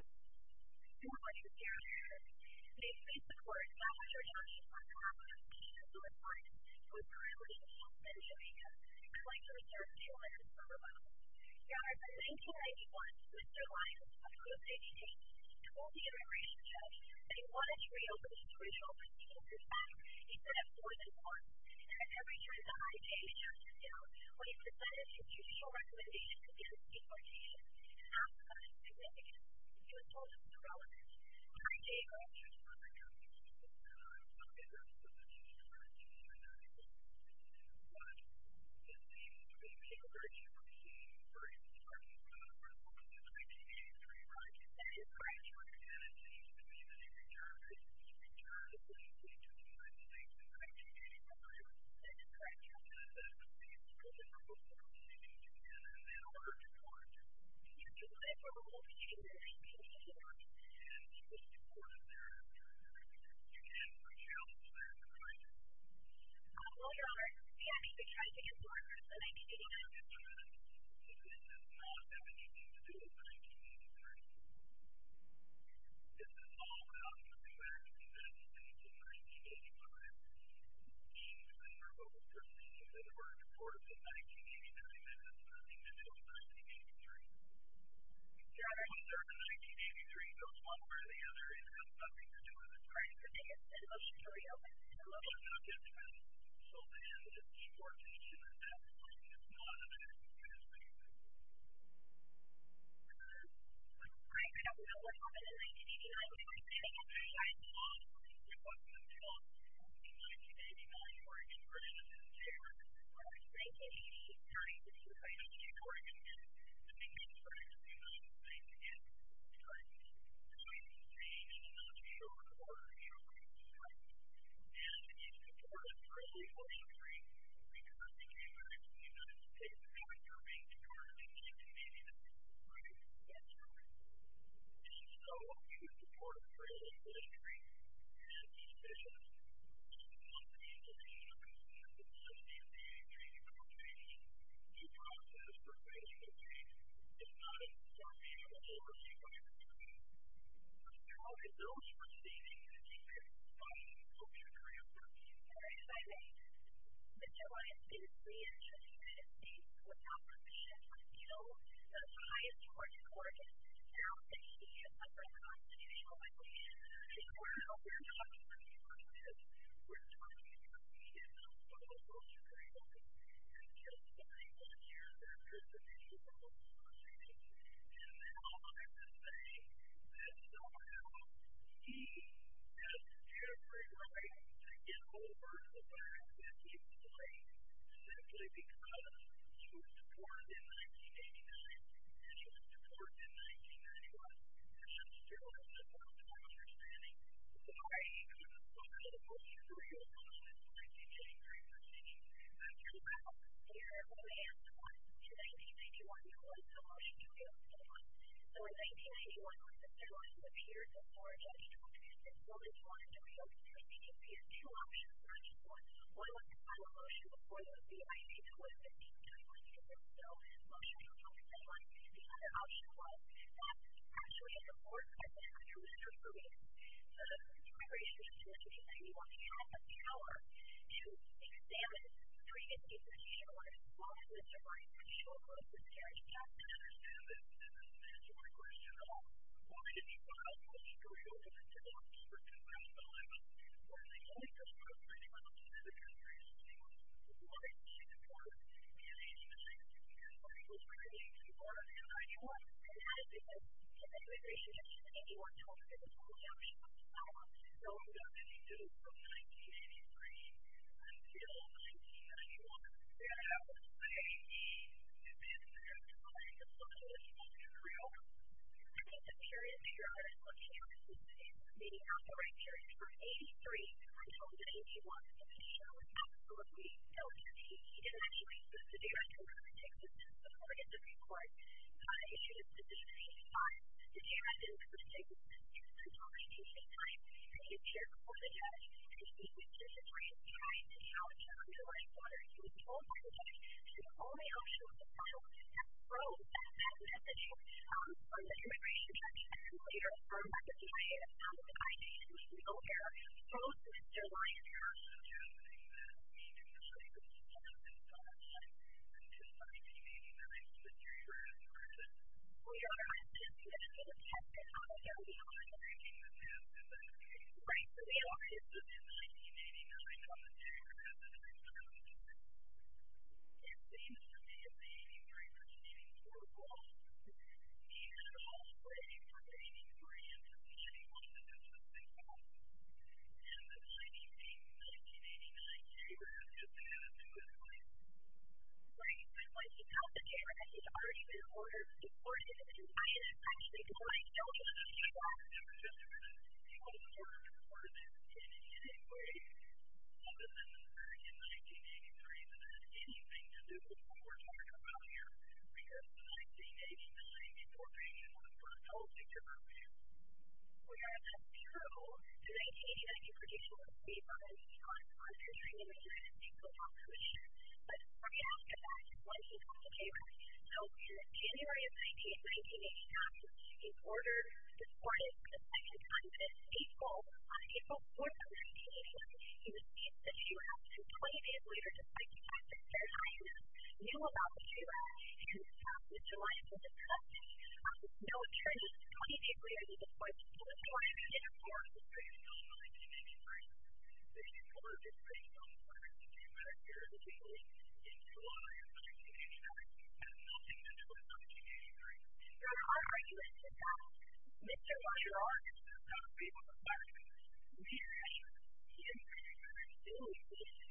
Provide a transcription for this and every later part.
Good morning, dear listeners. May it please the Court, Dr. Joshua Carver, who was born in North Carolina, North Carolina, then Jamaica, is going to reserve two minutes for rebuttal. Your Honor, in 1991, Mr. Lyons, a pro-state state, told the immigration judge that he wanted to reopen his original proceedings in fact, instead of going to court. In fact, every year in the IJ, Mr. Lyons, when he presented his judicial recommendations against deportation, he asked for a significant refusal of the relevant IJ members. Your Honor, my child is still there tonight. Oh, hello, Your Honor. The IJ tried to deport Mr. Lyons, didn't it? Oh, yes, Your Honor. But this is not that you need to do in 1983. This is all about the re-election that took place in 1985. Mr. Lyons was removed from the court in 1989, and Mr. Lyons in 1983. Your Honor, what's there in 1983 goes one way or the other. It has nothing to do with the IJ. It must be real. It must have been a different solution than deportation, and that's not a very good thing. Your Honor, I have no idea. In 1989, we were taking a flight home from New York to New York. In 1989, Oregon, Virginia, and New Jersey. On a phase 2 Ohio stay, urging that you write out a recording again, the memed claimed that you lied, and he did, but I am being in a military geography entitlement for it. And in part because of personal injury, because the case got reared in the United States, he got nerve grain terribly badly beaten in the head by a defensive Really? Yes, Your Honor. And in so, of you that passed personal injury and the officials, he was the one that came to me and said, I'm going to send you back to your country, to process your case with me, if not, send me to the U.S. Department of Defense. How could those who are seeking to keep your body, keep your career? Very exciting. Mr. Lyons, in reentry in the United States, without permission, was killed. So, Ohio's Georgia court, found that he is under constitutional obligation So, we're not talking about this. We're talking about he did not follow those agreements until 71 years after his initial release proceedings. And now I would say that somehow, he has every right to get over the fact that he was delayed, simply because he was deported in 1989, and he was deported in 1991. And if you're still having difficulty understanding, does that already exactly show who his bill was intended for? I will point you to a applying what he classified on MKS1, In 1991, it was the motion to repeal St. Lyons. So, in 1991, at the time of his up here, before lady took his bill to line at repeal Shepard, he didn't appear to option for next one. Well, it was a motion before... In May 2015, they reopened this bill, the motion to repeal St. Lyons. And the other option was, that actually at the board of the secretary of state, the immigration secretary, he was given a power to examine three individuals who were involved in the Supreme Court and show them what was their intent. I don't understand that. That's one of the questions. I don't know. One of the people I know, he's a good friend of the Supreme Court, he's worked in the White House. One of the only people who worked in the White House was a good friend of St. Lyons. The one in the Supreme Court, he was working in New York. And that is because the immigration judge in 1981 told St. Lyons that St. Lyons no longer existed in the United States. No longer existed in New York. And that was the way that the Supreme Court was looking at this bill through. I think the period that you're looking at is maybe not the right period. From 1983 until 1981, St. Lyons absolutely felt that he didn't actually exist in New York. And I think this is supported in the Supreme Court. Issued a decision in 1985. New York didn't put St. Lyons in control at any point in time. They didn't chair a court of judge. And St. Lyons was just trying to challenge the underlying borders. He was told by the judge that the only option was to follow that road, that messaging from the immigration judge and who later formed the CIA and founded the IAEA, which we all care, both of which generally are suggesting that he didn't actually exist in New York until 1989, which is the period where he was in prison. Well, you're right. He didn't exist in New York until 1989, which is the period in which he was in prison. Right. He didn't exist in New York until 1989, which is the period in which he was in prison. in the 1983-1984 law, he had a false claim that he didn't exist in New York and that 1983-1989 he was in Japan politically. Right. And when he's in California, he's already been ordered to court in New York. I was thinking, why don't you just shut up and just let him go to court in any way other than in 1983 that there's anything to do with the border around here because in 1988-1984 they didn't want to put a policy to remove him. Well, that's true. In 1989, he produced a book about his thoughts on continuing to take the law to his head. But shortly after that, when he got to New York, so in January of 1989, he was ordered to court for the second time in April. On April 4th of 1989, he received a trial and 20 days later, despite the fact that Fairchild knew about the trial and Mr. Lyons was a suspect. With no charges, 20 days later, he was ordered to court the same day in 1983. He was ordered to court the same day in 1983 in July of 1983 and nothing to do with 1983. There are arguments about Mr. Lyons and other people in America who think that he was doing this in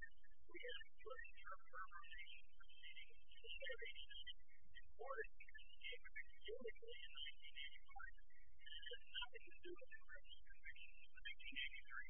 1988. We haven't heard from him since the beginning of the 70s or that he was doing this in 1988 and that's why we haven't heard from him since 1983.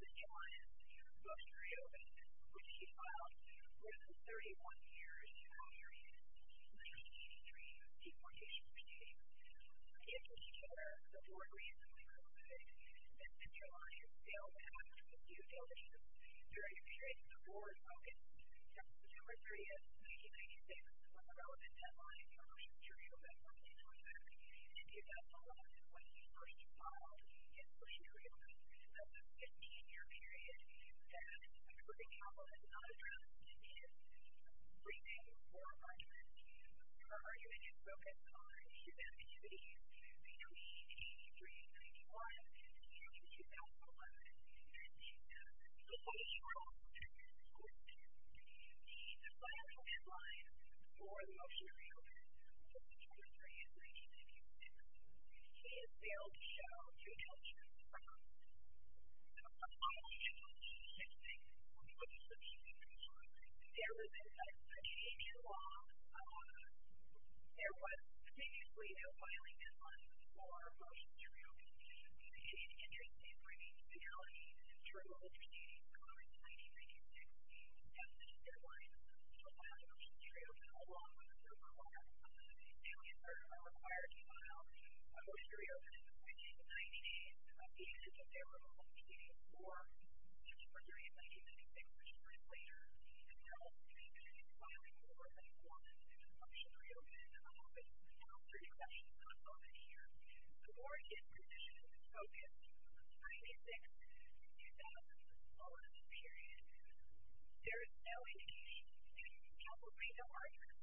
There's a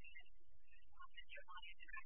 lot of speculation about how he got into jail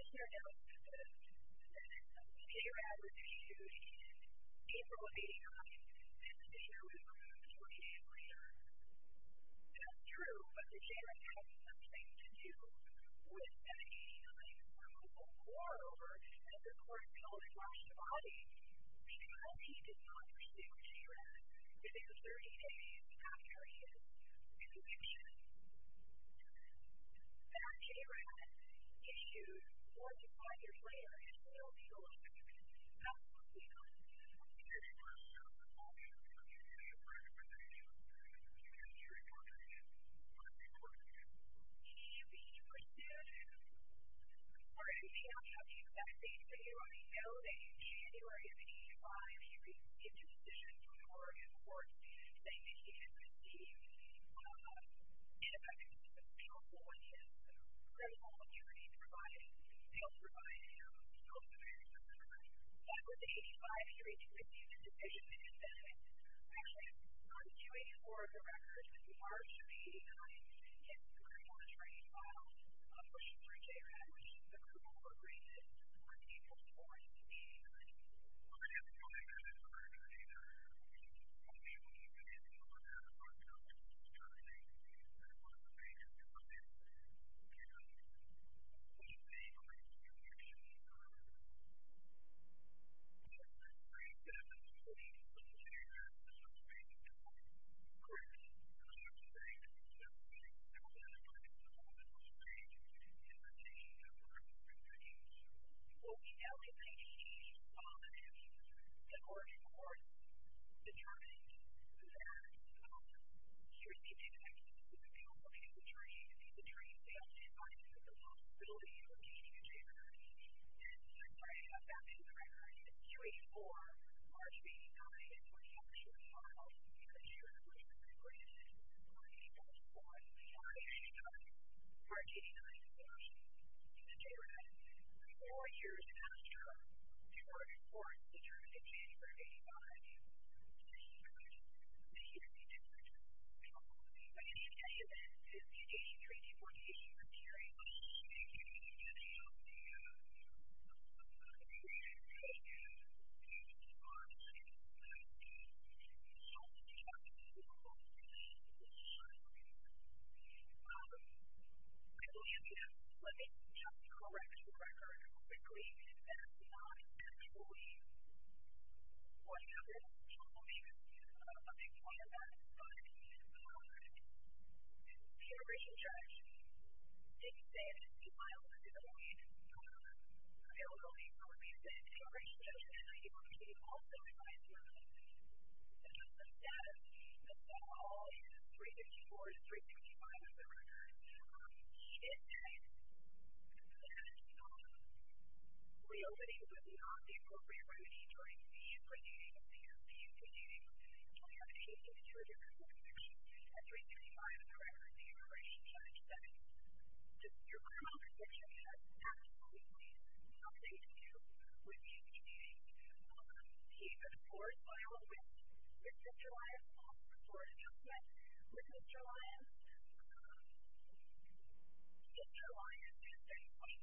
and how he was able to get out of jail and come back and be able to work and help but we don't have any evidence